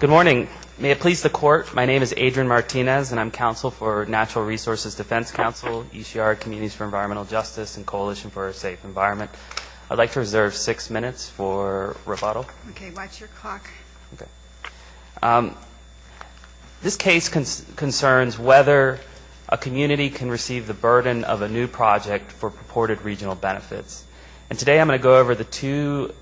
Good morning. May it please the Court, my name is Adrian Martinez and I'm counsel for Natural Resources Defense Council, East Yard Communities for Environmental Justice and Coalition for a Safe Environment. I'd like to reserve six minutes for rebuttal. Okay, watch your clock. This case concerns whether a community can receive the burden of a new project for purported regional benefits. And today I'm going to go over the two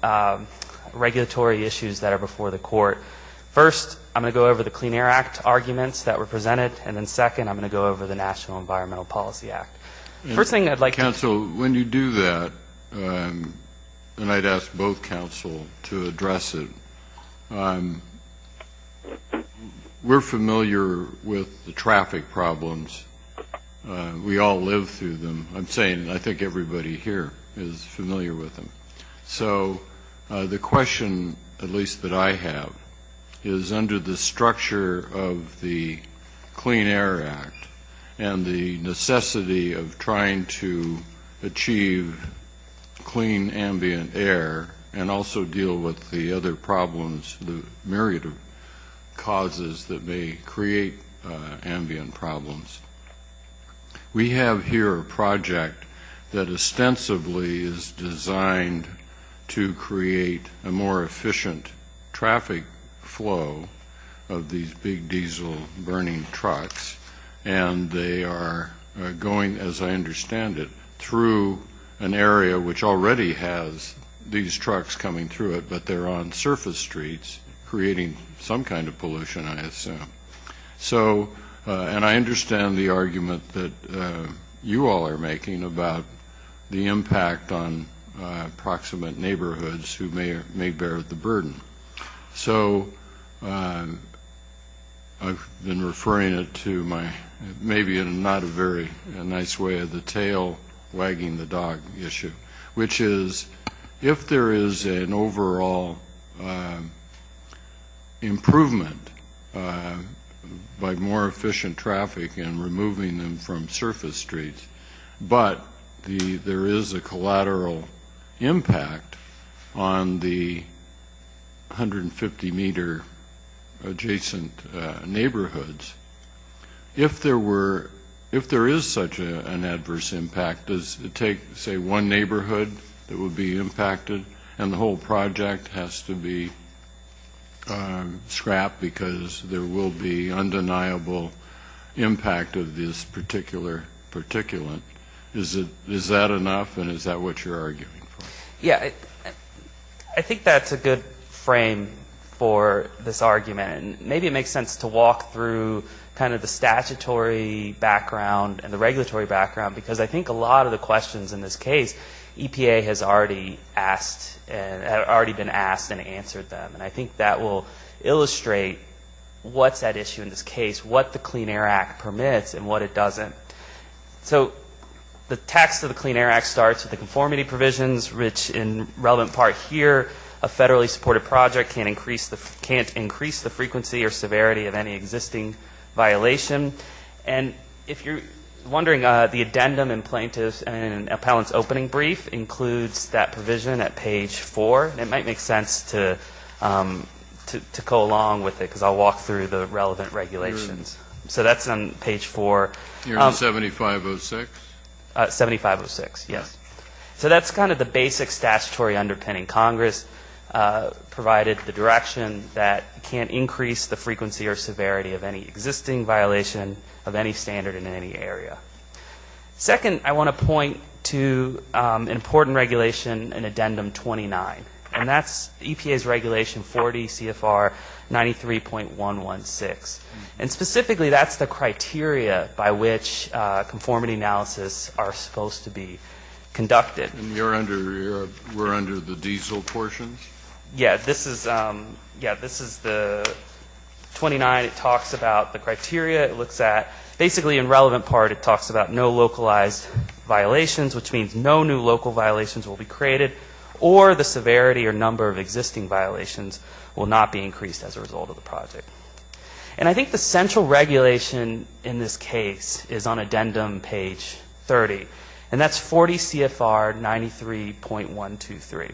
regulatory issues that are before the Court. First, I'm going to go over the Clean Air Act arguments that were presented. And then second, I'm going to go over the National Environmental Policy Act. First thing I'd like to... Counsel, when you do that, and I'd ask both counsel to address it, we're familiar with the traffic problems. We all live through them, I'm saying, and I think everybody here is familiar with them. So the question, at least that I have, is under the structure of the Clean Air Act and the necessity of trying to achieve clean ambient air and also deal with the other problems, the myriad of causes that may create ambient problems. We have here a project that ostensibly is designed to create a more efficient traffic flow of these big diesel burning trucks. And they are going, as I understand it, through an area which already has these trucks coming through it, but they're on surface streets, creating some kind of pollution, I assume. And I understand the argument that you all are making about the impact on proximate neighborhoods who may bear the burden. So I've been referring it to maybe not a very nice way of the tail wagging the dog issue, which is if there is an overall improvement by more efficient traffic and removing them from surface streets, but there is a collateral impact on the 150-meter adjacent neighborhoods, if there is such an adverse impact, does it take, say, one neighborhood that would be impacted and the whole project has to be scrapped because there will be undeniable impact of this particular particulate? Is that enough and is that what you're arguing for? Yeah, I think that's a good frame for this argument. And maybe it makes sense to walk through kind of the statutory background and the regulatory background because I think a lot of the questions in this case, EPA has already been asked and answered them. And I think that will illustrate what's at issue in this case, what the Clean Air Act permits and what it doesn't. So the text of the Clean Air Act starts with the conformity provisions, which in relevant part here, a federally supported project can't increase the frequency or severity of any existing violation. And if you're wondering, the addendum in plaintiff's and appellant's opening brief includes that provision at page 4. It might make sense to go along with it because I'll walk through the relevant regulations. So that's on page 4. You're on 7506? 7506, yes. So that's kind of the basic statutory underpinning. Congress provided the direction that can't increase the frequency or severity of any existing violation of any standard in any area. Second, I want to point to an important regulation in addendum 29. And that's EPA's regulation 40 CFR 93.116. And specifically, that's the criteria by which conformity analysis are supposed to be conducted. And we're under the diesel portions? Yeah. This is the 29. It talks about the criteria. It looks at basically in relevant part it talks about no localized violations, which means no new local violations will be created, or the severity or number of existing violations will not be increased as a result of the project. And I think the central regulation in this case is on addendum page 30. And that's 40 CFR 93.123.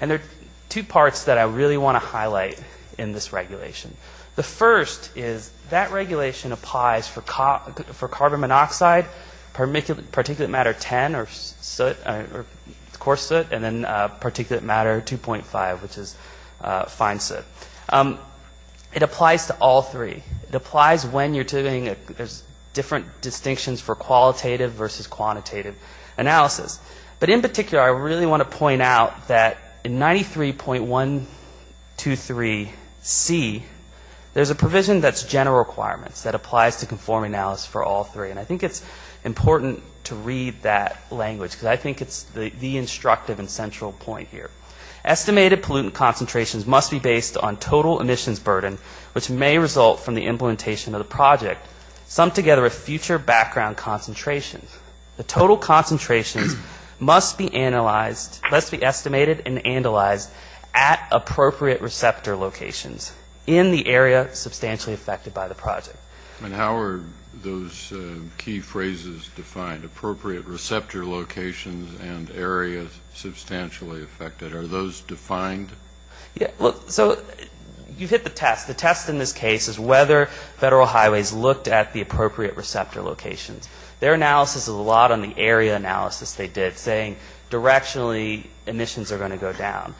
And there are two parts that I really want to highlight in this regulation. The first is that regulation applies for carbon monoxide, particulate matter 10, or soot, or coarse soot, and then particulate matter 2.5, which is fine soot. It applies to all three. It applies when you're doing different distinctions for qualitative versus quantitative analysis. But in particular, I really want to point out that in 93.123C, there's a provision that's general requirements that applies to conformity analysis for all three. And I think it's important to read that language because I think it's the instructive and central point here. Estimated pollutant concentrations must be based on total emissions burden, which may result from the implementation of the project, summed together with future background concentrations. The total concentrations must be analyzed, must be estimated and analyzed, at appropriate receptor locations in the area substantially affected by the project. And how are those key phrases defined? Appropriate receptor locations and areas substantially affected. Are those defined? So you've hit the test. The test in this case is whether Federal Highways looked at the appropriate receptor locations. Their analysis is a lot on the area analysis they did, saying directionally emissions are going to go down.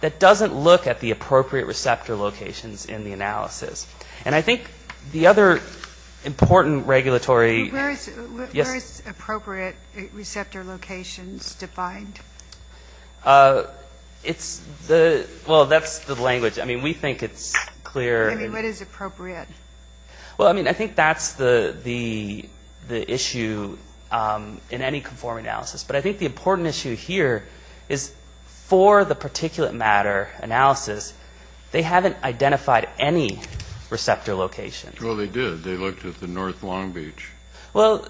That doesn't look at the appropriate receptor locations in the analysis. And I think the other important regulatory ‑‑ Where is appropriate receptor locations defined? It's the ‑‑ well, that's the language. I mean, we think it's clear. I mean, what is appropriate? Well, I mean, I think that's the issue in any conformity analysis. But I think the important issue here is for the particulate matter analysis, they haven't identified any receptor locations. Well, they did. They looked at the north Long Beach. Well,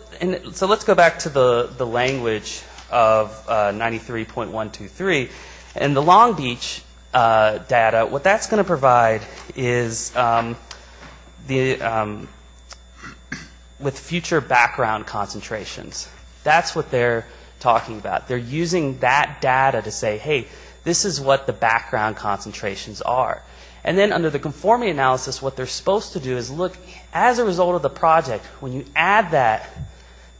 so let's go back to the language of 93.123. And the Long Beach data, what that's going to provide is the ‑‑ with future background concentrations. That's what they're talking about. They're using that data to say, hey, this is what the background concentrations are. And then under the conformity analysis, what they're supposed to do is look, as a result of the project, when you add that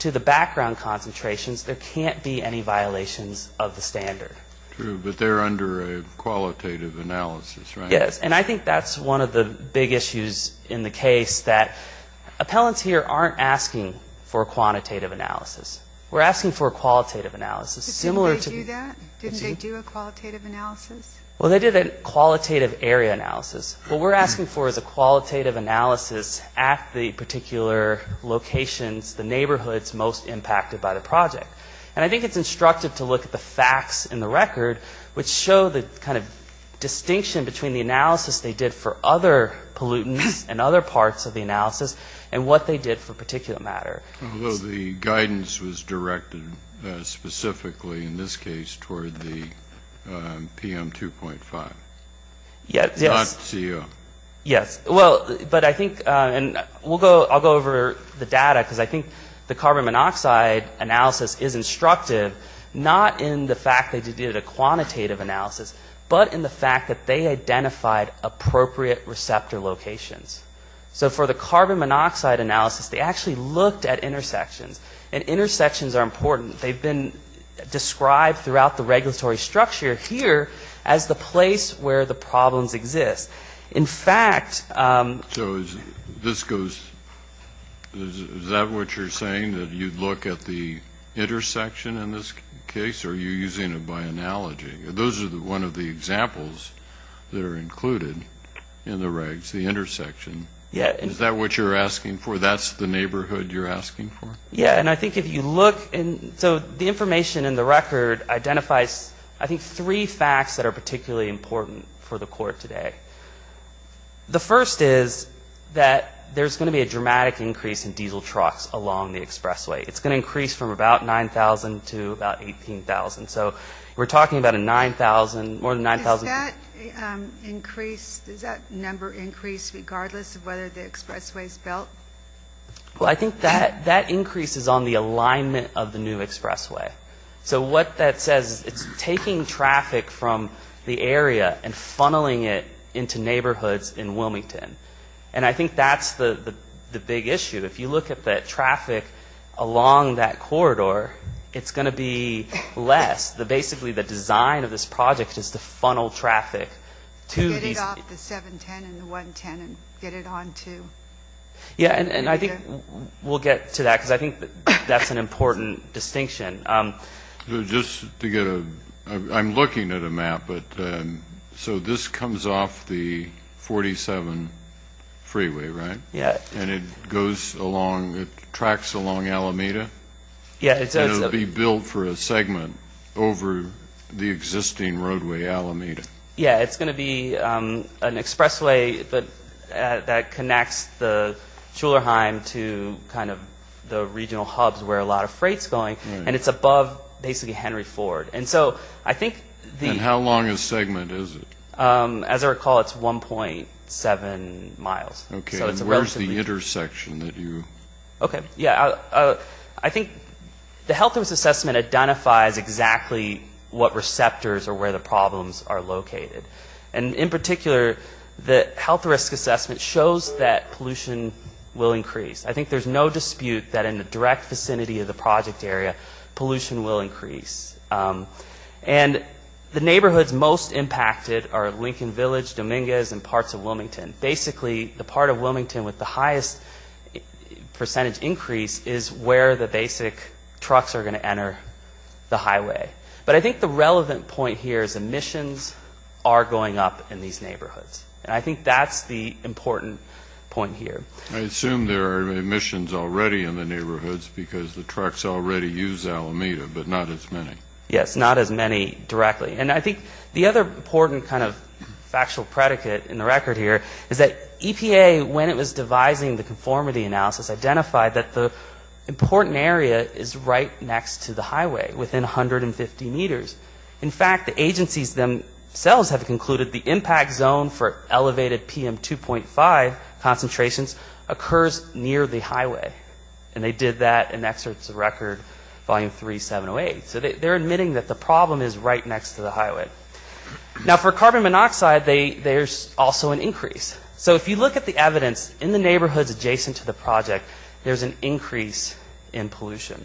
to the background concentrations, there can't be any violations of the standard. True, but they're under a qualitative analysis, right? Yes, and I think that's one of the big issues in the case, that appellants here aren't asking for a quantitative analysis. We're asking for a qualitative analysis. Didn't they do that? Didn't they do a qualitative analysis? Well, they did a qualitative area analysis. What we're asking for is a qualitative analysis at the particular locations, the neighborhoods most impacted by the project. And I think it's instructive to look at the facts in the record, which show the kind of distinction between the analysis they did for other pollutants and other parts of the analysis and what they did for particulate matter. Although the guidance was directed specifically, in this case, toward the PM2.5. Yes. Not CO. Yes. Well, but I think, and I'll go over the data, because I think the carbon monoxide analysis is instructive, not in the fact that they did a quantitative analysis, but in the fact that they identified appropriate receptor locations. So for the carbon monoxide analysis, they actually looked at intersections, and intersections are important. They've been described throughout the regulatory structure here as the place where the problems exist. In fact, So this goes, is that what you're saying, that you'd look at the intersection in this case, or are you using it by analogy? Those are one of the examples that are included in the regs, the intersection. Is that what you're asking for? That's the neighborhood you're asking for? Yeah, and I think if you look, so the information in the record identifies, I think, three facts that are particularly important for the Court today. The first is that there's going to be a dramatic increase in diesel trucks along the expressway. It's going to increase from about 9,000 to about 18,000. So we're talking about a 9,000, more than 9,000. Does that increase, does that number increase regardless of whether the expressway is built? Well, I think that increases on the alignment of the new expressway. So what that says is it's taking traffic from the area and funneling it into neighborhoods in Wilmington. And I think that's the big issue. If you look at the traffic along that corridor, it's going to be less. Basically, the design of this project is to funnel traffic to these... Get it off the 710 and the 110 and get it on to Alameda. Yeah, and I think we'll get to that because I think that's an important distinction. Just to get a... I'm looking at a map, but... So this comes off the 47 freeway, right? Yeah. And it goes along, it tracks along Alameda? Yeah. And it'll be built for a segment over the existing roadway, Alameda. Yeah, it's going to be an expressway that connects the Schulerheim to kind of the regional hubs where a lot of freight's going. And it's above, basically, Henry Ford. And so I think the... And how long a segment is it? As I recall, it's 1.7 miles. Okay, and where's the intersection that you... Okay, yeah, I think the health risk assessment identifies exactly what receptors or where the problems are located. And in particular, the health risk assessment shows that pollution will increase. I think there's no dispute that in the direct vicinity of the project area, pollution will increase. And the neighborhoods most impacted are Lincoln Village, Dominguez, and parts of Wilmington. Basically, the part of Wilmington with the highest percentage increase is where the basic trucks are going to enter the highway. But I think the relevant point here is emissions are going up in these neighborhoods. And I think that's the important point here. I assume there are emissions already in the neighborhoods because the trucks already use Alameda, but not as many. Yes, not as many directly. And I think the other important kind of factual predicate in the record here is that EPA, when it was devising the conformity analysis, identified that the important area is right next to the highway, within 150 meters. In fact, the agencies themselves have concluded the impact zone for elevated PM2.5 concentrations occurs near the highway. And they did that in Exerts of Record, Volume 3, 708. So they're admitting that the problem is right next to the highway. Now, for carbon monoxide, there's also an increase. So if you look at the evidence in the neighborhoods adjacent to the project, there's an increase in pollution.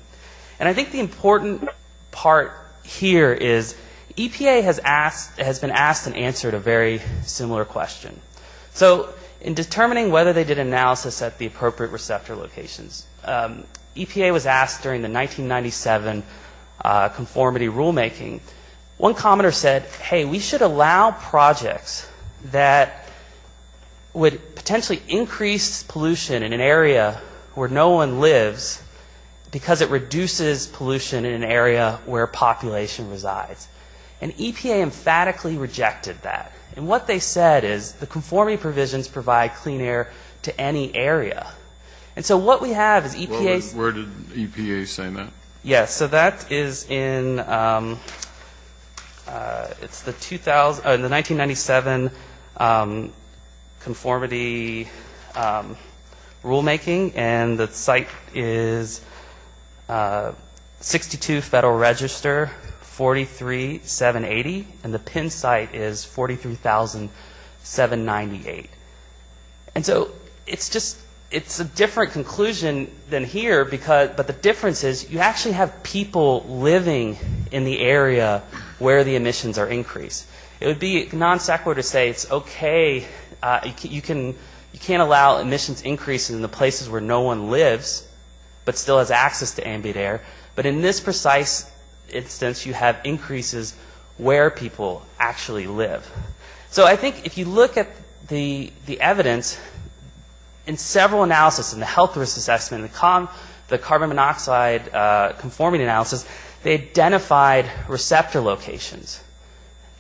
And I think the important part here is EPA has been asked and answered a very similar question. So in determining whether they did analysis at the appropriate receptor locations, EPA was asked during the 1997 conformity rulemaking, one commenter said, hey, we should allow projects that would potentially increase pollution in an area where no one lives because it reduces pollution in an area where a population resides. And EPA emphatically rejected that. And what they said is the conformity provisions provide clean air to any area. And so what we have is EPA's... Where did EPA say that? Yes, so that is in the 1997 conformity rulemaking. And the site is 62 Federal Register, 43,780. And the PIN site is 43,798. And so it's a different conclusion than here, but the difference is you actually have people living in the area where the emissions are increased. It would be non-sequitur to say it's okay, you can't allow emissions increase in the places where no one lives but still has access to ambient air. But in this precise instance, you have increases where people actually live. So I think if you look at the evidence, in several analysis, in the health risk assessment, in the carbon monoxide conformity analysis, they identified receptor locations.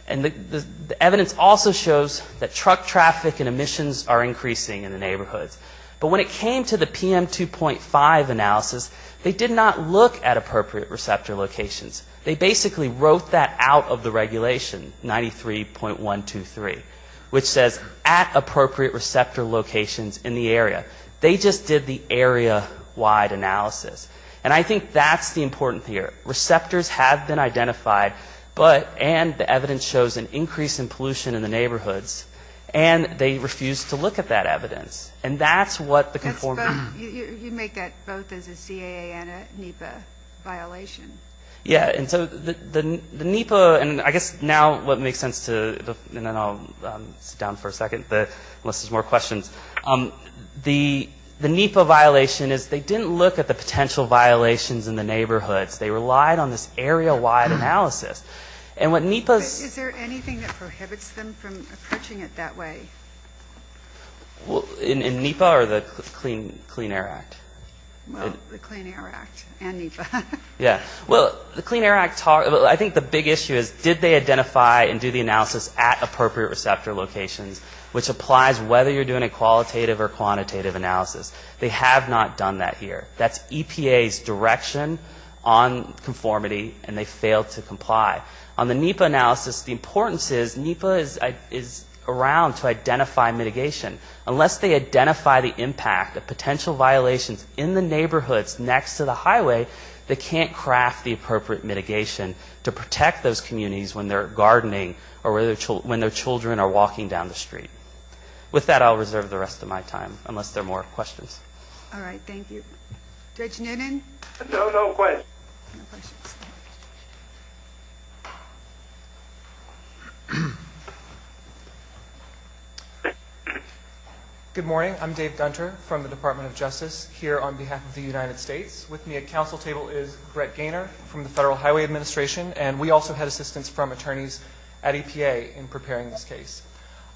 And the evidence also shows that truck traffic and emissions are increasing in the neighborhoods. But when it came to the PM2.5 analysis, they did not look at appropriate receptor locations. They basically wrote that out of the regulation, 93.123, which says at appropriate receptor locations in the area. They just did the area-wide analysis. And I think that's the important here. Receptors have been identified, but and the evidence shows an increase in pollution in the neighborhoods, and they refused to look at that evidence. And that's what the conformity. You make that both as a CAA and a NEPA violation. Yeah, and so the NEPA, and I guess now what makes sense to, and then I'll sit down for a second unless there's more questions. The NEPA violation is they didn't look at the potential violations in the neighborhoods. They relied on this area-wide analysis. And what NEPA's... Is there anything that prohibits them from approaching it that way? In NEPA or the Clean Air Act? Well, the Clean Air Act and NEPA. Yeah. Well, the Clean Air Act, I think the big issue is did they identify and do the analysis at appropriate receptor locations, which applies whether you're doing a qualitative or quantitative analysis. They have not done that here. That's EPA's direction on conformity, and they failed to comply. On the NEPA analysis, the importance is NEPA is around to identify mitigation. Unless they identify the impact of potential violations in the neighborhoods next to the highway, they can't craft the appropriate mitigation to protect those communities when they're gardening or when their children are walking down the street. With that, I'll reserve the rest of my time unless there are more questions. All right. Thank you. Judge Noonan? No, no questions. Good morning. I'm Dave Gunter from the Department of Justice here on behalf of the United States. With me at council table is Brett Gaynor from the Federal Highway Administration, and we also had assistance from attorneys at EPA in preparing this case.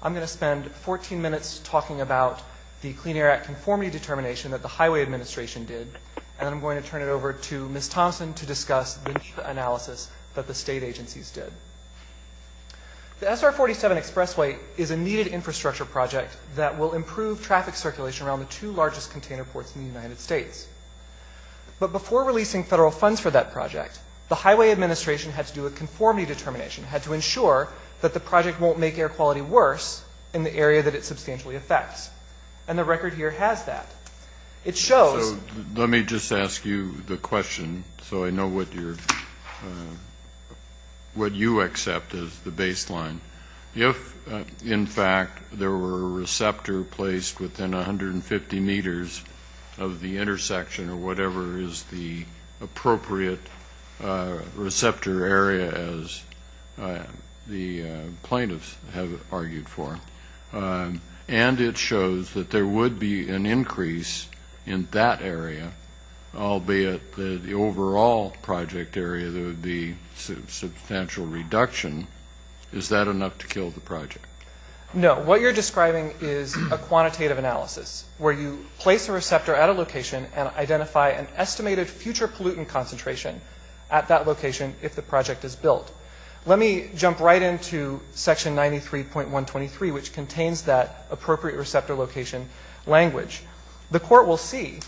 I'm going to spend 14 minutes talking about the Clean Air Act conformity determination that the Highway Administration did, and I'm going to turn it over to Ms. Thompson to discuss the NEPA analysis that the state agencies did. The SR-47 expressway is a needed infrastructure project that will improve traffic circulation around the two largest container ports in the United States. But before releasing federal funds for that project, the Highway Administration had to do a conformity determination, had to ensure that the project won't make air quality worse in the area that it substantially affects. And the record here has that. It shows. So let me just ask you the question so I know what you accept as the baseline. If, in fact, there were a receptor placed within 150 meters of the intersection or whatever is the appropriate receptor area, as the plaintiffs have argued for, and it shows that there would be an increase in that area, albeit the overall project area, the substantial reduction, is that enough to kill the project? No. What you're describing is a quantitative analysis where you place a receptor at a location and identify an estimated future pollutant concentration at that location if the project is built. Let me jump right into Section 93.123, which contains that appropriate receptor location language. The court will see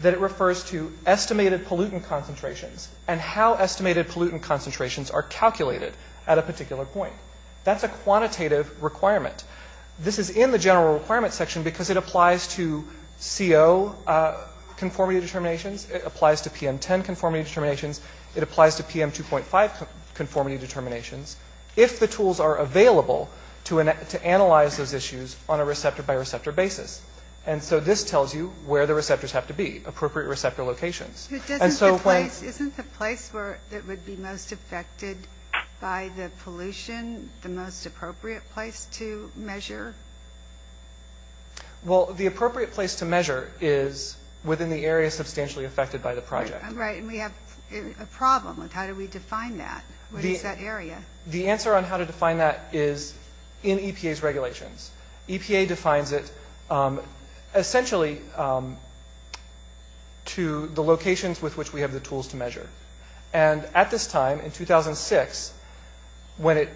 that it refers to estimated pollutant concentrations and how estimated pollutant concentrations are calculated at a particular point. That's a quantitative requirement. This is in the general requirements section because it applies to CO conformity determinations. It applies to PM10 conformity determinations. It applies to PM2.5 conformity determinations. if the tools are available to analyze those issues on a receptor-by-receptor basis. And so this tells you where the receptors have to be, appropriate receptor locations. Isn't the place that would be most affected by the pollution the most appropriate place to measure? Well, the appropriate place to measure is within the area substantially affected by the project. Right, and we have a problem with how do we define that? What is that area? The answer on how to define that is in EPA's regulations. EPA defines it essentially to the locations with which we have the tools to measure. And at this time, in 2006, when it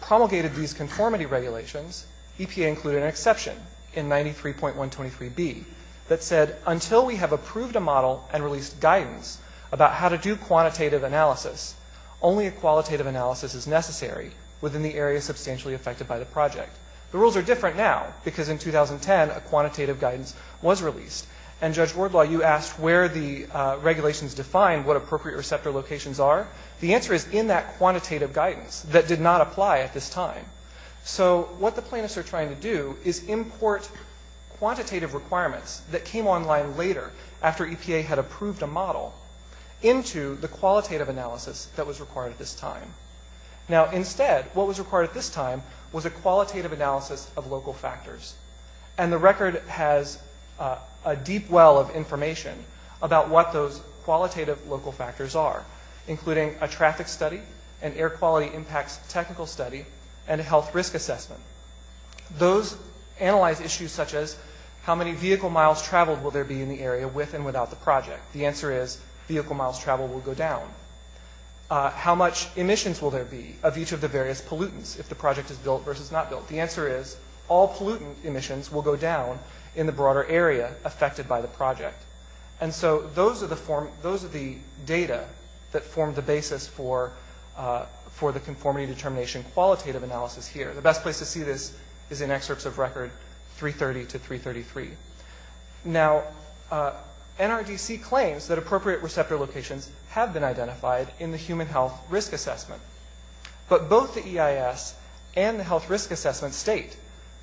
promulgated these conformity regulations, EPA included an exception in 93.123B that said, until we have approved a model and released guidance about how to do quantitative analysis, only a qualitative analysis is necessary within the area substantially affected by the project. The rules are different now because in 2010, a quantitative guidance was released. And, Judge Wardlaw, you asked where the regulations defined what appropriate receptor locations are. The answer is in that quantitative guidance that did not apply at this time. So what the plaintiffs are trying to do is import quantitative requirements that came online later after EPA had approved a model into the qualitative analysis that was required at this time. Now, instead, what was required at this time was a qualitative analysis of local factors. And the record has a deep well of information about what those qualitative local factors are, including a traffic study, an air quality impacts technical study, and a health risk assessment. Those analyze issues such as how many vehicle miles traveled will there be in the area with and without the project. The answer is vehicle miles traveled will go down. How much emissions will there be of each of the various pollutants if the project is built versus not built? The answer is all pollutant emissions will go down in the broader area affected by the project. And so those are the data that form the basis for the conformity determination qualitative analysis here. The best place to see this is in excerpts of record 330 to 333. Now, NRDC claims that appropriate receptor locations have been identified in the human health risk assessment. But both the EIS and the health risk assessment state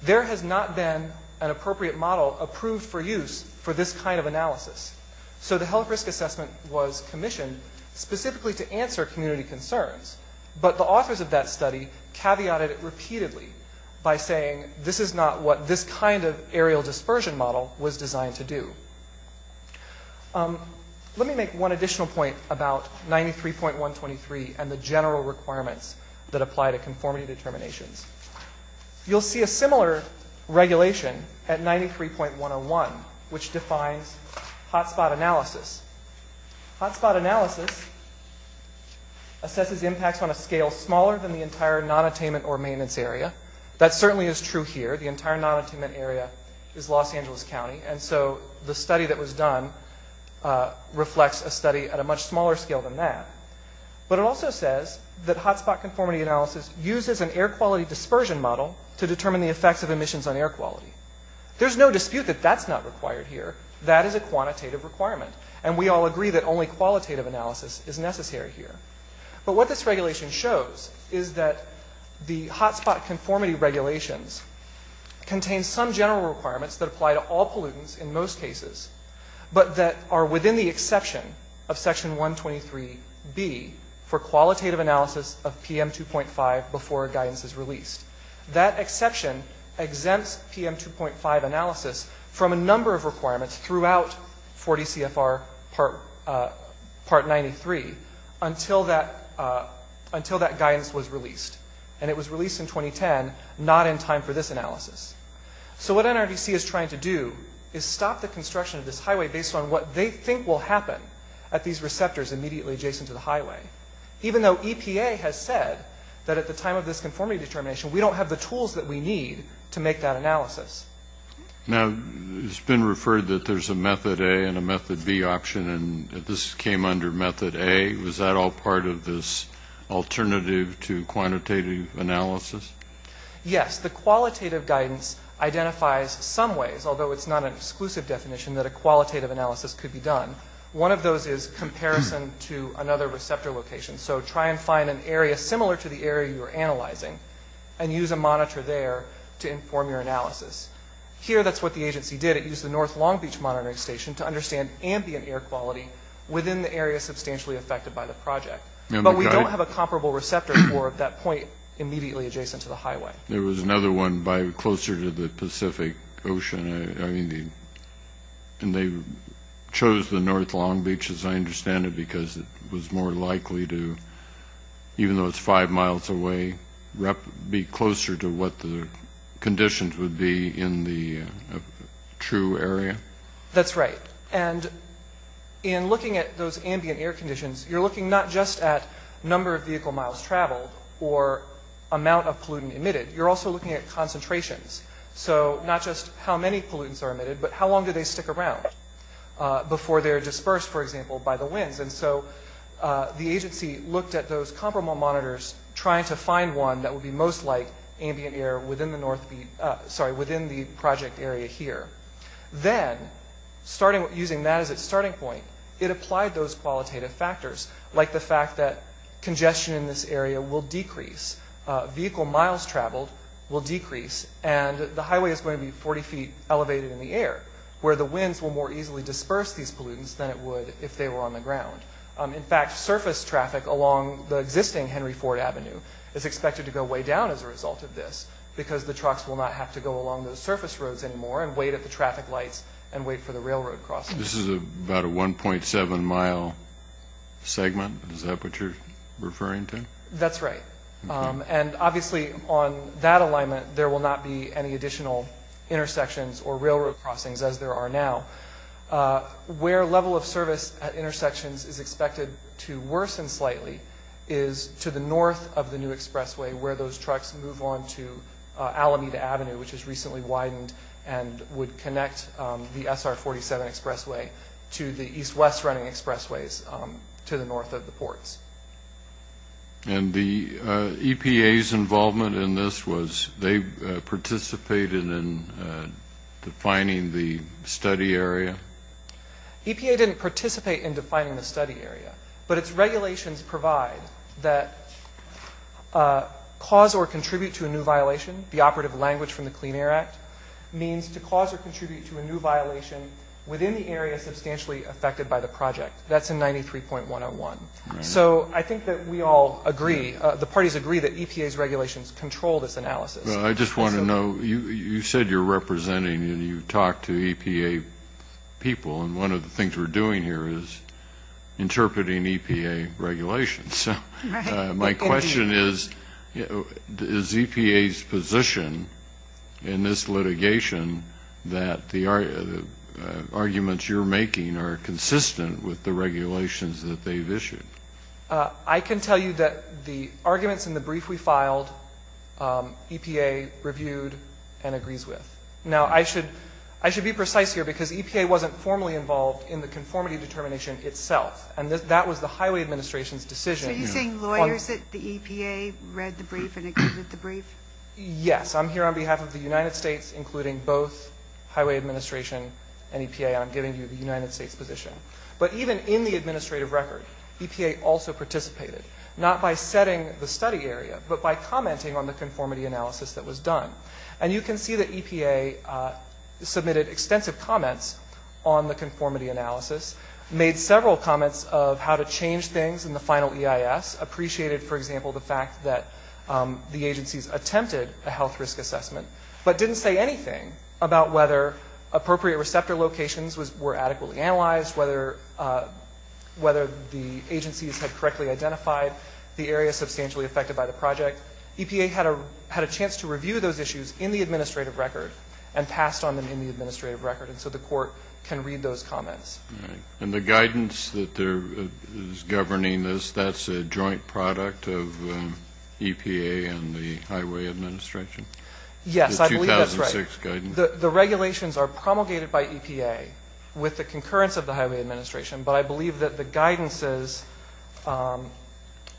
there has not been an appropriate model approved for use for this kind of analysis. So the health risk assessment was commissioned specifically to answer community concerns. But the authors of that study caveated it repeatedly by saying this is not what this kind of aerial dispersion model was designed to do. Let me make one additional point about 93.123 and the general requirements that apply to conformity determinations. You'll see a similar regulation at 93.101 which defines hotspot analysis. Hotspot analysis assesses impacts on a scale smaller than the entire non-attainment or maintenance area. That certainly is true here. The entire non-attainment area is Los Angeles County. And so the study that was done reflects a study at a much smaller scale than that. But it also says that hotspot conformity analysis uses an air quality dispersion model to determine the effects of emissions on air quality. There's no dispute that that's not required here. That is a quantitative requirement. And we all agree that only qualitative analysis is necessary here. But what this regulation shows is that the hotspot conformity regulations contain some general requirements that apply to all pollutants in most cases but that are within the exception of Section 123B for qualitative analysis of PM2.5 before a guidance is released. That exception exempts PM2.5 analysis from a number of requirements throughout 40 CFR Part 93 until that guidance was released. And it was released in 2010, not in time for this analysis. So what NRDC is trying to do is stop the construction of this highway based on what they think will happen at these receptors immediately adjacent to the highway. Even though EPA has said that at the time of this conformity determination, we don't have the tools that we need to make that analysis. Now, it's been referred that there's a Method A and a Method B option, and this came under Method A. Was that all part of this alternative to quantitative analysis? Yes. The qualitative guidance identifies some ways, although it's not an exclusive definition that a qualitative analysis could be done. One of those is comparison to another receptor location. So try and find an area similar to the area you're analyzing and use a monitor there to inform your analysis. Here, that's what the agency did. It used the North Long Beach Monitoring Station to understand ambient air quality within the area substantially affected by the project. But we don't have a comparable receptor for that point immediately adjacent to the highway. There was another one closer to the Pacific Ocean. And they chose the North Long Beach, as I understand it, because it was more likely to, even though it's five miles away, be closer to what the conditions would be in the true area? That's right. And in looking at those ambient air conditions, you're looking not just at number of vehicle miles traveled or amount of pollutant emitted. You're also looking at concentrations. So not just how many pollutants are emitted, but how long do they stick around before they're dispersed, for example, by the winds. And so the agency looked at those comparable monitors, trying to find one that would be most like ambient air within the project area here. Then, using that as its starting point, it applied those qualitative factors, like the fact that congestion in this area will decrease. Vehicle miles traveled will decrease. And the highway is going to be 40 feet elevated in the air, where the winds will more easily disperse these pollutants than it would if they were on the ground. In fact, surface traffic along the existing Henry Ford Avenue is expected to go way down as a result of this, because the trucks will not have to go along those surface roads anymore and wait at the traffic lights and wait for the railroad crossing. This is about a 1.7-mile segment. Is that what you're referring to? That's right. And obviously, on that alignment, there will not be any additional intersections or railroad crossings, as there are now. Where level of service at intersections is expected to worsen slightly is to the north of the new expressway, where those trucks move on to Alameda Avenue, which has recently widened and would connect the SR-47 expressway to the east-west running expressways to the north of the ports. And the EPA's involvement in this was they participated in defining the study area? EPA didn't participate in defining the study area, but its regulations provide that cause or contribute to a new violation, the operative language from the Clean Air Act means to cause or contribute to a new violation within the area substantially affected by the project. That's in 93.101. So I think that we all agree, the parties agree, that EPA's regulations control this analysis. Well, I just want to know, you said you're representing and you've talked to EPA people, and one of the things we're doing here is interpreting EPA regulations. My question is, is EPA's position in this litigation that the arguments you're making are consistent with the regulations that they've issued? I can tell you that the arguments in the brief we filed, EPA reviewed and agrees with. Now, I should be precise here because EPA wasn't formally involved in the conformity determination itself, and that was the Highway Administration's decision. So are you saying lawyers at the EPA read the brief and accepted the brief? Yes. I'm here on behalf of the United States, including both Highway Administration and EPA, and I'm giving you the United States position. But even in the administrative record, EPA also participated, not by setting the study area, but by commenting on the conformity analysis that was done. And you can see that EPA submitted extensive comments on the conformity analysis, made several comments of how to change things in the final EIS, appreciated, for example, the fact that the agencies attempted a health risk assessment, but didn't say anything about whether appropriate receptor locations were adequately analyzed, whether the agencies had correctly identified the area substantially affected by the project. EPA had a chance to review those issues in the administrative record and passed on them in the administrative record. And so the court can read those comments. All right. And the guidance that is governing this, that's a joint product of EPA and the Highway Administration? Yes. I believe that's right. The 2006 guidance. The regulations are promulgated by EPA with the concurrence of the Highway Administration, but I believe that the guidance is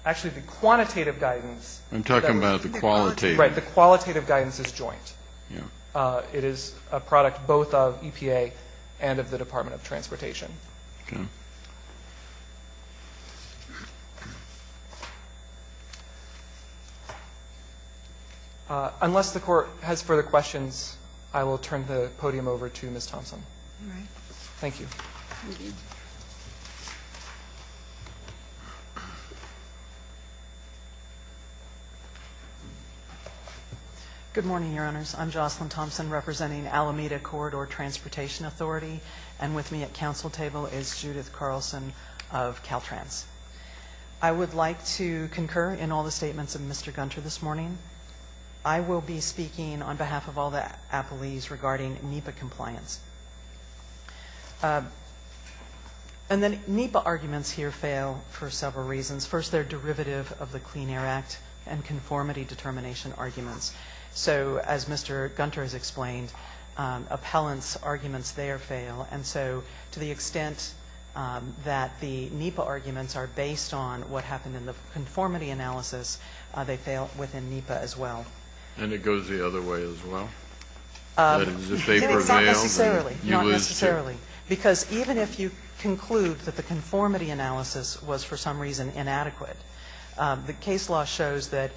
actually the quantitative guidance. I'm talking about the qualitative. Right. The qualitative guidance is joint. Yeah. It is a product both of EPA and of the Department of Transportation. Okay. Unless the court has further questions, I will turn the podium over to Ms. Thompson. All right. Thank you. Thank you. Good morning, Your Honors. I'm Jocelyn Thompson representing Alameda Corridor Transportation Authority, and with me at council table is Judith Carlson of Caltrans. I would like to concur in all the statements of Mr. Gunter this morning. I will be speaking on behalf of all the appellees regarding NEPA compliance. And then NEPA arguments here fail for several reasons. First, they're derivative of the Clean Air Act and conformity determination arguments. So as Mr. Gunter has explained, appellants' arguments there fail, and so to the extent that the NEPA arguments are based on what happened in the conformity analysis, they fail within NEPA as well. And it goes the other way as well? It's not necessarily. Not necessarily. Because even if you conclude that the conformity analysis was for some reason inadequate, the case law shows that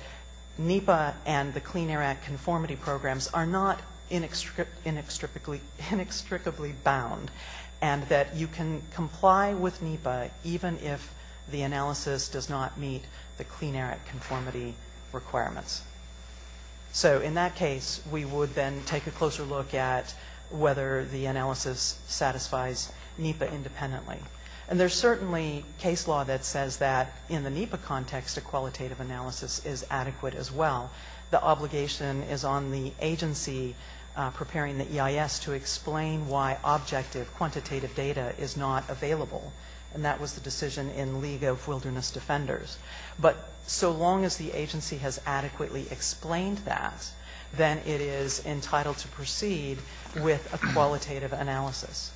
NEPA and the Clean Air Act conformity programs are not inextricably bound and that you can comply with NEPA even if the analysis does not meet the Clean Air Act conformity requirements. So in that case, we would then take a closer look at whether the analysis satisfies NEPA independently. And there's certainly case law that says that in the NEPA context, a qualitative analysis is adequate as well. The obligation is on the agency preparing the EIS to explain why objective quantitative data is not available, and that was the decision in League of Wilderness Defenders. But so long as the agency has adequately explained that, then it is entitled to proceed with a qualitative analysis.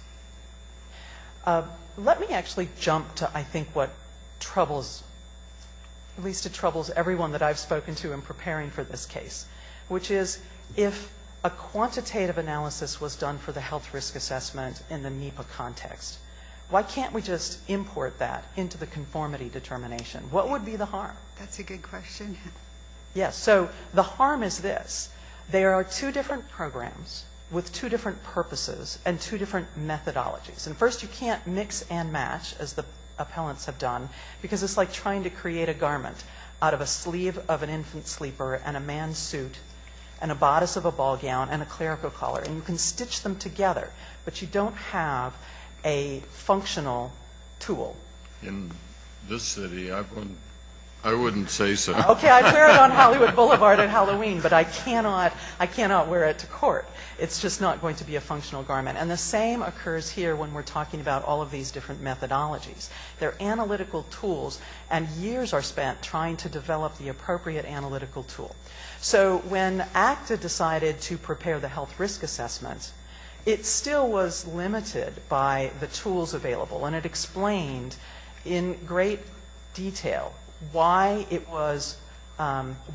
Let me actually jump to I think what troubles, at least it troubles everyone that I've spoken to in preparing for this case, which is if a quantitative analysis was done for the health risk assessment in the NEPA context, why can't we just import that into the conformity determination? What would be the harm? That's a good question. Yes, so the harm is this. There are two different programs with two different purposes and two different methodologies. And first, you can't mix and match, as the appellants have done, because it's like trying to create a garment out of a sleeve of an infant sleeper and a man's suit and a bodice of a ball gown and a clerical collar, and you can stitch them together, but you don't have a functional tool. In this city, I wouldn't say so. Okay, I'd wear it on Hollywood Boulevard at Halloween, but I cannot wear it to court. It's just not going to be a functional garment. And the same occurs here when we're talking about all of these different methodologies. They're analytical tools, and years are spent trying to develop the appropriate analytical tool. So when ACTA decided to prepare the health risk assessment, it still was limited by the tools available, and it explained in great detail why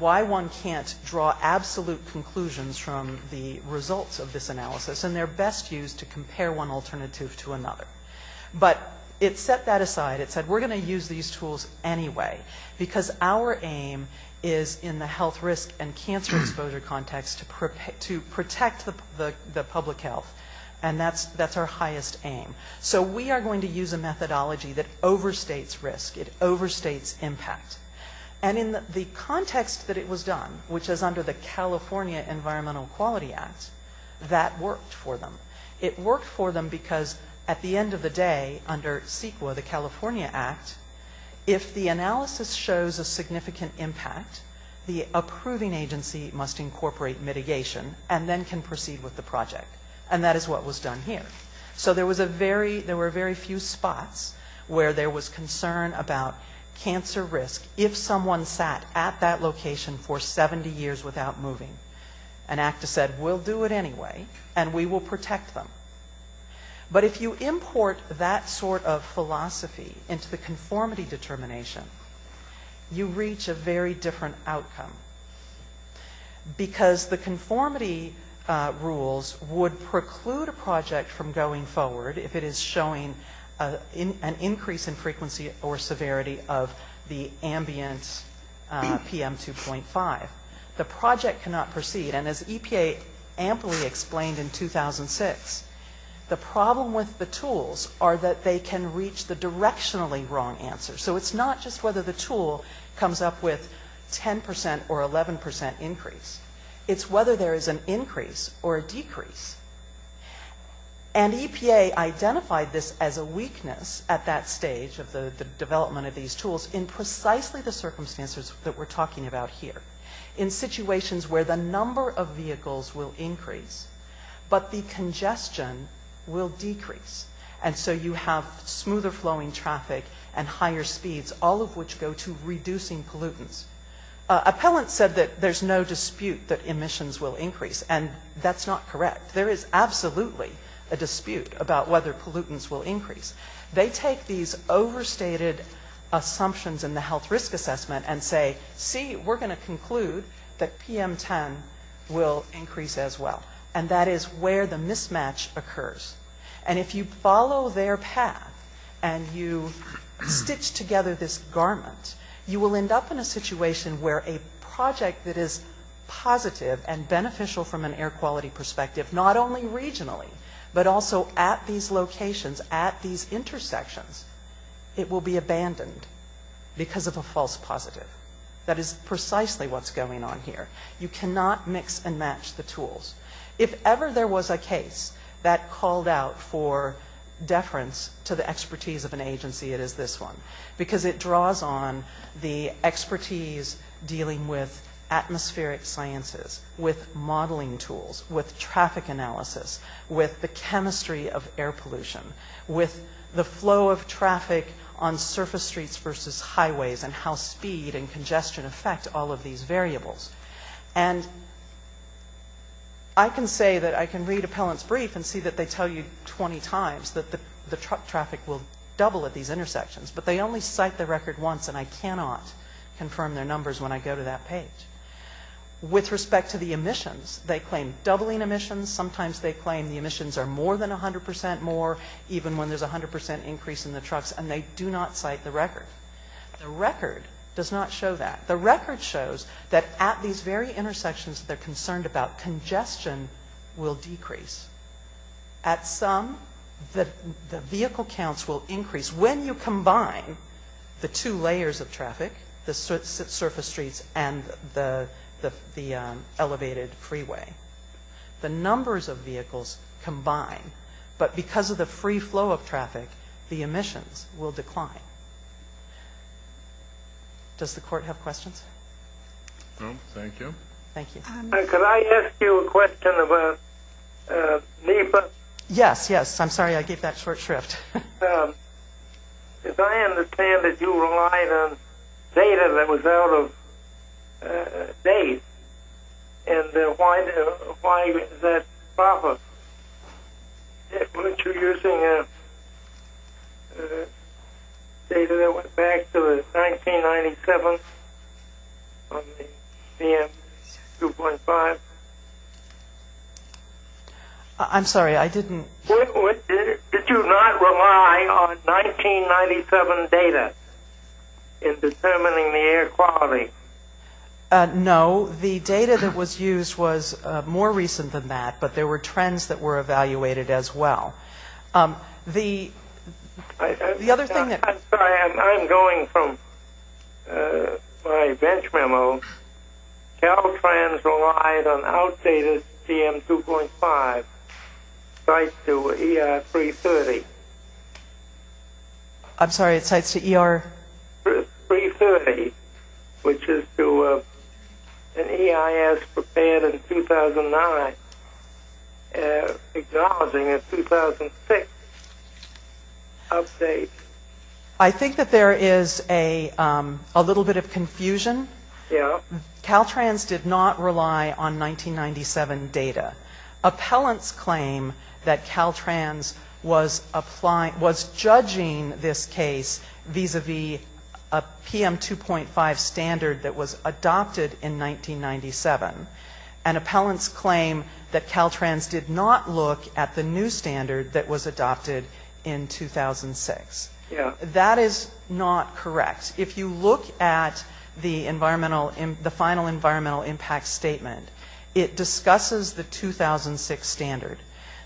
one can't draw absolute conclusions from the results of this analysis, and they're best used to compare one alternative to another. But it set that aside. It said we're going to use these tools anyway, because our aim is in the health risk and cancer exposure context to protect the public health, and that's our highest aim. So we are going to use a methodology that overstates risk. It overstates impact. And in the context that it was done, which is under the California Environmental Quality Act, that worked for them. It worked for them because at the end of the day, under CEQA, the California Act, if the analysis shows a significant impact, the approving agency must incorporate mitigation and then can proceed with the project, and that is what was done here. So there was a very, there were very few spots where there was concern about cancer risk if someone sat at that location for 70 years without moving. And ACTA said, we'll do it anyway, and we will protect them. But if you import that sort of philosophy into the conformity determination, you reach a very different outcome, because the conformity rules would preclude a project from going forward if it is showing an increase in frequency or severity of the ambient PM2.5. The project cannot proceed, and as EPA amply explained in 2006, the problem with the tools are that they can reach the directionally wrong answer. So it's not just whether the tool comes up with 10% or 11% increase. It's whether there is an increase or a decrease. And EPA identified this as a weakness at that stage of the development of these tools in precisely the circumstances that we're talking about here, in situations where the number of vehicles will increase, but the congestion will decrease. And so you have smoother flowing traffic and higher speeds, all of which go to reducing pollutants. Appellants said that there's no dispute that emissions will increase, and that's not correct. There is absolutely a dispute about whether pollutants will increase. They take these overstated assumptions in the health risk assessment and say, see, we're going to conclude that PM10 will increase as well. And that is where the mismatch occurs. And if you follow their path and you stitch together this garment, you will end up in a situation where a project that is positive and beneficial from an air quality perspective, not only regionally, but also at these locations, at these intersections, it will be abandoned because of a false positive. That is precisely what's going on here. You cannot mix and match the tools. If ever there was a case that called out for deference to the expertise of an agency, it is this one, because it draws on the expertise dealing with atmospheric sciences, with modeling tools, with traffic analysis, with the chemistry of air pollution, with the flow of traffic on surface streets versus highways and how speed and congestion affect all of these variables. And I can say that I can read appellant's brief and see that they tell you 20 times that the truck traffic will double at these intersections, but they only cite the record once, and I cannot confirm their numbers when I go to that page. With respect to the emissions, they claim doubling emissions. Sometimes they claim the emissions are more than 100 percent more, even when there's a 100 percent increase in the trucks, and they do not cite the record. The record does not show that. The record shows that at these very intersections that they're concerned about, congestion will decrease. At some, the vehicle counts will increase when you combine the two layers of traffic, the surface streets and the elevated freeway. The numbers of vehicles combine, but because of the free flow of traffic, the emissions will decline. Does the court have questions? No, thank you. Thank you. Could I ask you a question about NEPA? Yes, yes. I'm sorry I gave that short shrift. If I understand that you relied on data that was out of date, and why is that a problem? Weren't you using data that went back to 1997 on the CM 2.5? I'm sorry, I didn't. Did you not rely on 1997 data in determining the air quality? No. The data that was used was more recent than that, but there were trends that were evaluated as well. The other thing that – I'm sorry, I'm going from my bench memo. Caltrans relied on outdated CM 2.5 sites to ER 330. I'm sorry, it's sites to ER? 330, which is to an EIS prepared in 2009, acknowledging a 2006 update. I think that there is a little bit of confusion. Yeah. Caltrans did not rely on 1997 data. Appellants claim that Caltrans was judging this case vis-à-vis a PM 2.5 standard that was adopted in 1997. And appellants claim that Caltrans did not look at the new standard that was adopted in 2006. That is not correct. If you look at the final environmental impact statement, it discusses the 2006 standard.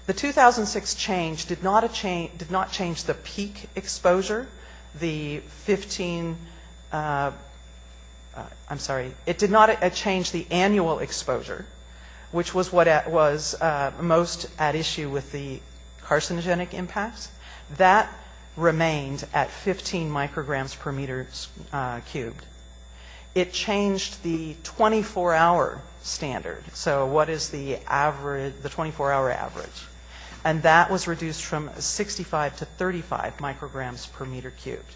The 2006 change did not change the peak exposure, the 15 – I'm sorry, it did not change the annual exposure, which was what was most at issue with the carcinogenic impact. That remained at 15 micrograms per meter cubed. It changed the 24-hour standard. So what is the 24-hour average? And that was reduced from 65 to 35 micrograms per meter cubed.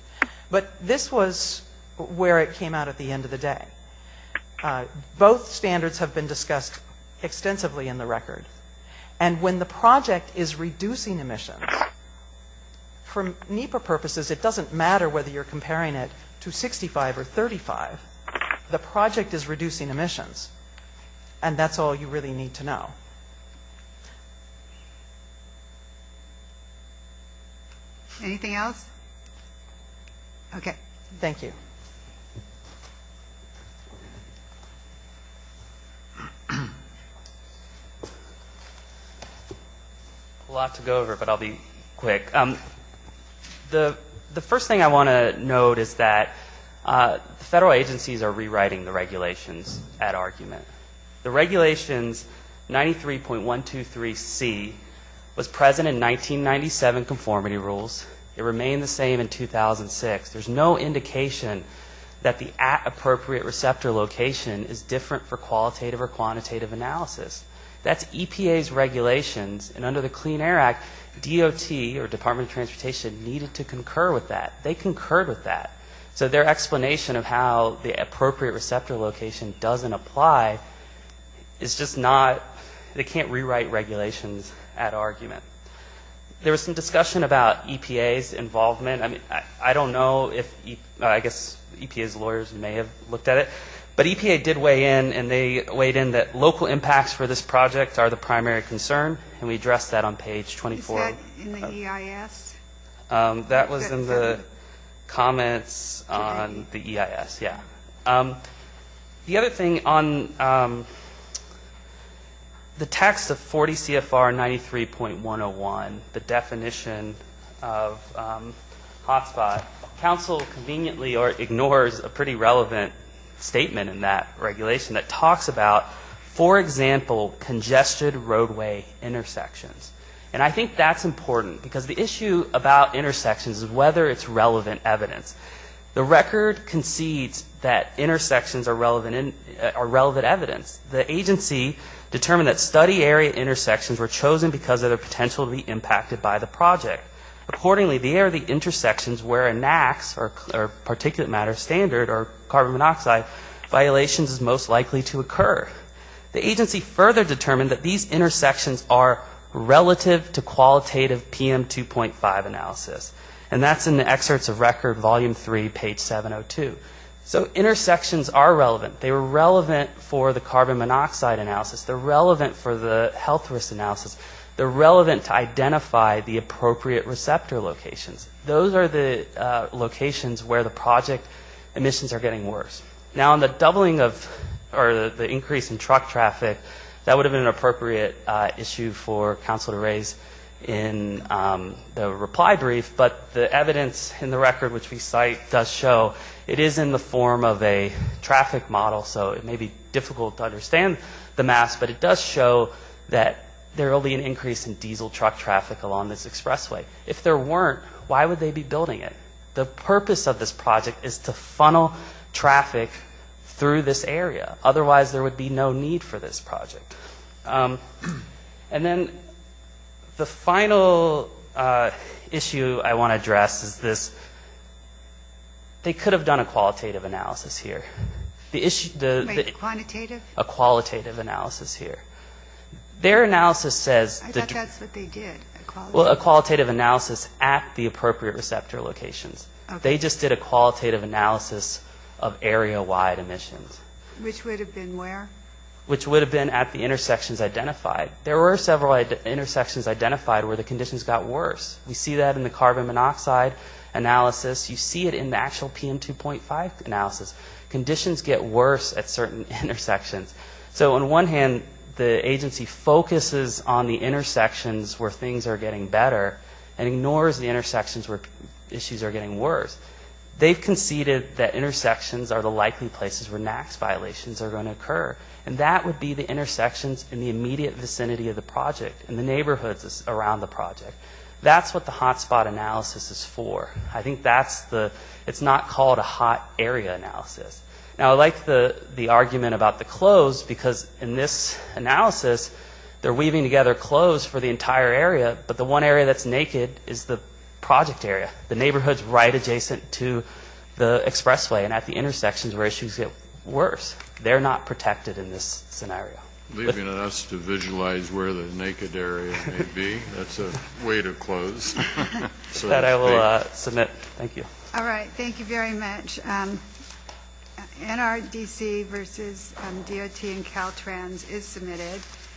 But this was where it came out at the end of the day. Both standards have been discussed extensively in the record. And when the project is reducing emissions, for NEPA purposes, it doesn't matter whether you're comparing it to 65 or 35. The project is reducing emissions. And that's all you really need to know. Anything else? Okay. Thank you. I have a lot to go over, but I'll be quick. The first thing I want to note is that the federal agencies are rewriting the regulations at argument. The regulations 93.123C was present in 1997 conformity rules. It remained the same in 2006. There's no indication that the at appropriate receptor location is different for qualitative or quantitative analysis. That's EPA's regulations. And under the Clean Air Act, DOT, or Department of Transportation, needed to concur with that. They concurred with that. So their explanation of how the appropriate receptor location doesn't apply is just not, they can't rewrite regulations at argument. There was some discussion about EPA's involvement. I mean, I don't know if, I guess EPA's lawyers may have looked at it. But EPA did weigh in, and they weighed in that local impacts for this project are the primary concern. And we addressed that on page 24. Is that in the EIS? That was in the comments on the EIS, yeah. The other thing on the text of 40 CFR 93.101, the definition of hotspot, counsel conveniently ignores a pretty relevant statement in that regulation that talks about, for example, congested roadway intersections. And I think that's important, because the issue about intersections is whether it's relevant evidence. The record concedes that intersections are relevant evidence. The agency determined that study area intersections were chosen because of the potential to be impacted by the project. Accordingly, they are the intersections where a NAAQS, or particulate matter standard, or carbon monoxide violation is most likely to occur. The agency further determined that these intersections are relative to qualitative PM 2.5 analysis. And that's in the excerpts of record, volume three, page 702. So intersections are relevant. They were relevant for the carbon monoxide analysis. They're relevant for the health risk analysis. They're relevant to identify the appropriate receptor locations. Those are the locations where the project emissions are getting worse. Now, on the doubling of, or the increase in truck traffic, that would have been an appropriate issue for council to raise in the reply brief. But the evidence in the record, which we cite, does show it is in the form of a traffic model. So it may be difficult to understand the maps. But it does show that there will be an increase in diesel truck traffic along this expressway. If there weren't, why would they be building it? The purpose of this project is to funnel traffic through this area. Otherwise, there would be no need for this project. And then the final issue I want to address is this. They could have done a qualitative analysis here. The issue, the- Wait, quantitative? A qualitative analysis here. Their analysis says- I thought that's what they did, a qualitative- Well, a qualitative analysis at the appropriate receptor locations. Okay. They just did a qualitative analysis of area-wide emissions. Which would have been where? Which would have been at the intersections identified. There were several intersections identified where the conditions got worse. We see that in the carbon monoxide analysis. You see it in the actual PM2.5 analysis. Conditions get worse at certain intersections. So on one hand, the agency focuses on the intersections where things are getting better and ignores the intersections where issues are getting worse. They've conceded that intersections are the likely places where NAAQS violations are going to occur. And that would be the intersections in the immediate vicinity of the project and the neighborhoods around the project. That's what the hotspot analysis is for. I think that's the- It's not called a hot area analysis. Now, I like the argument about the clothes because in this analysis, they're weaving together clothes for the entire area, but the one area that's naked is the project area, the neighborhoods right adjacent to the expressway and at the intersections where issues get worse. They're not protected in this scenario. Leaving it up to visualize where the naked area may be. That's a way to close. That I will submit. Thank you. All right. Thank you very much. NRDC versus DOT and Caltrans is submitted.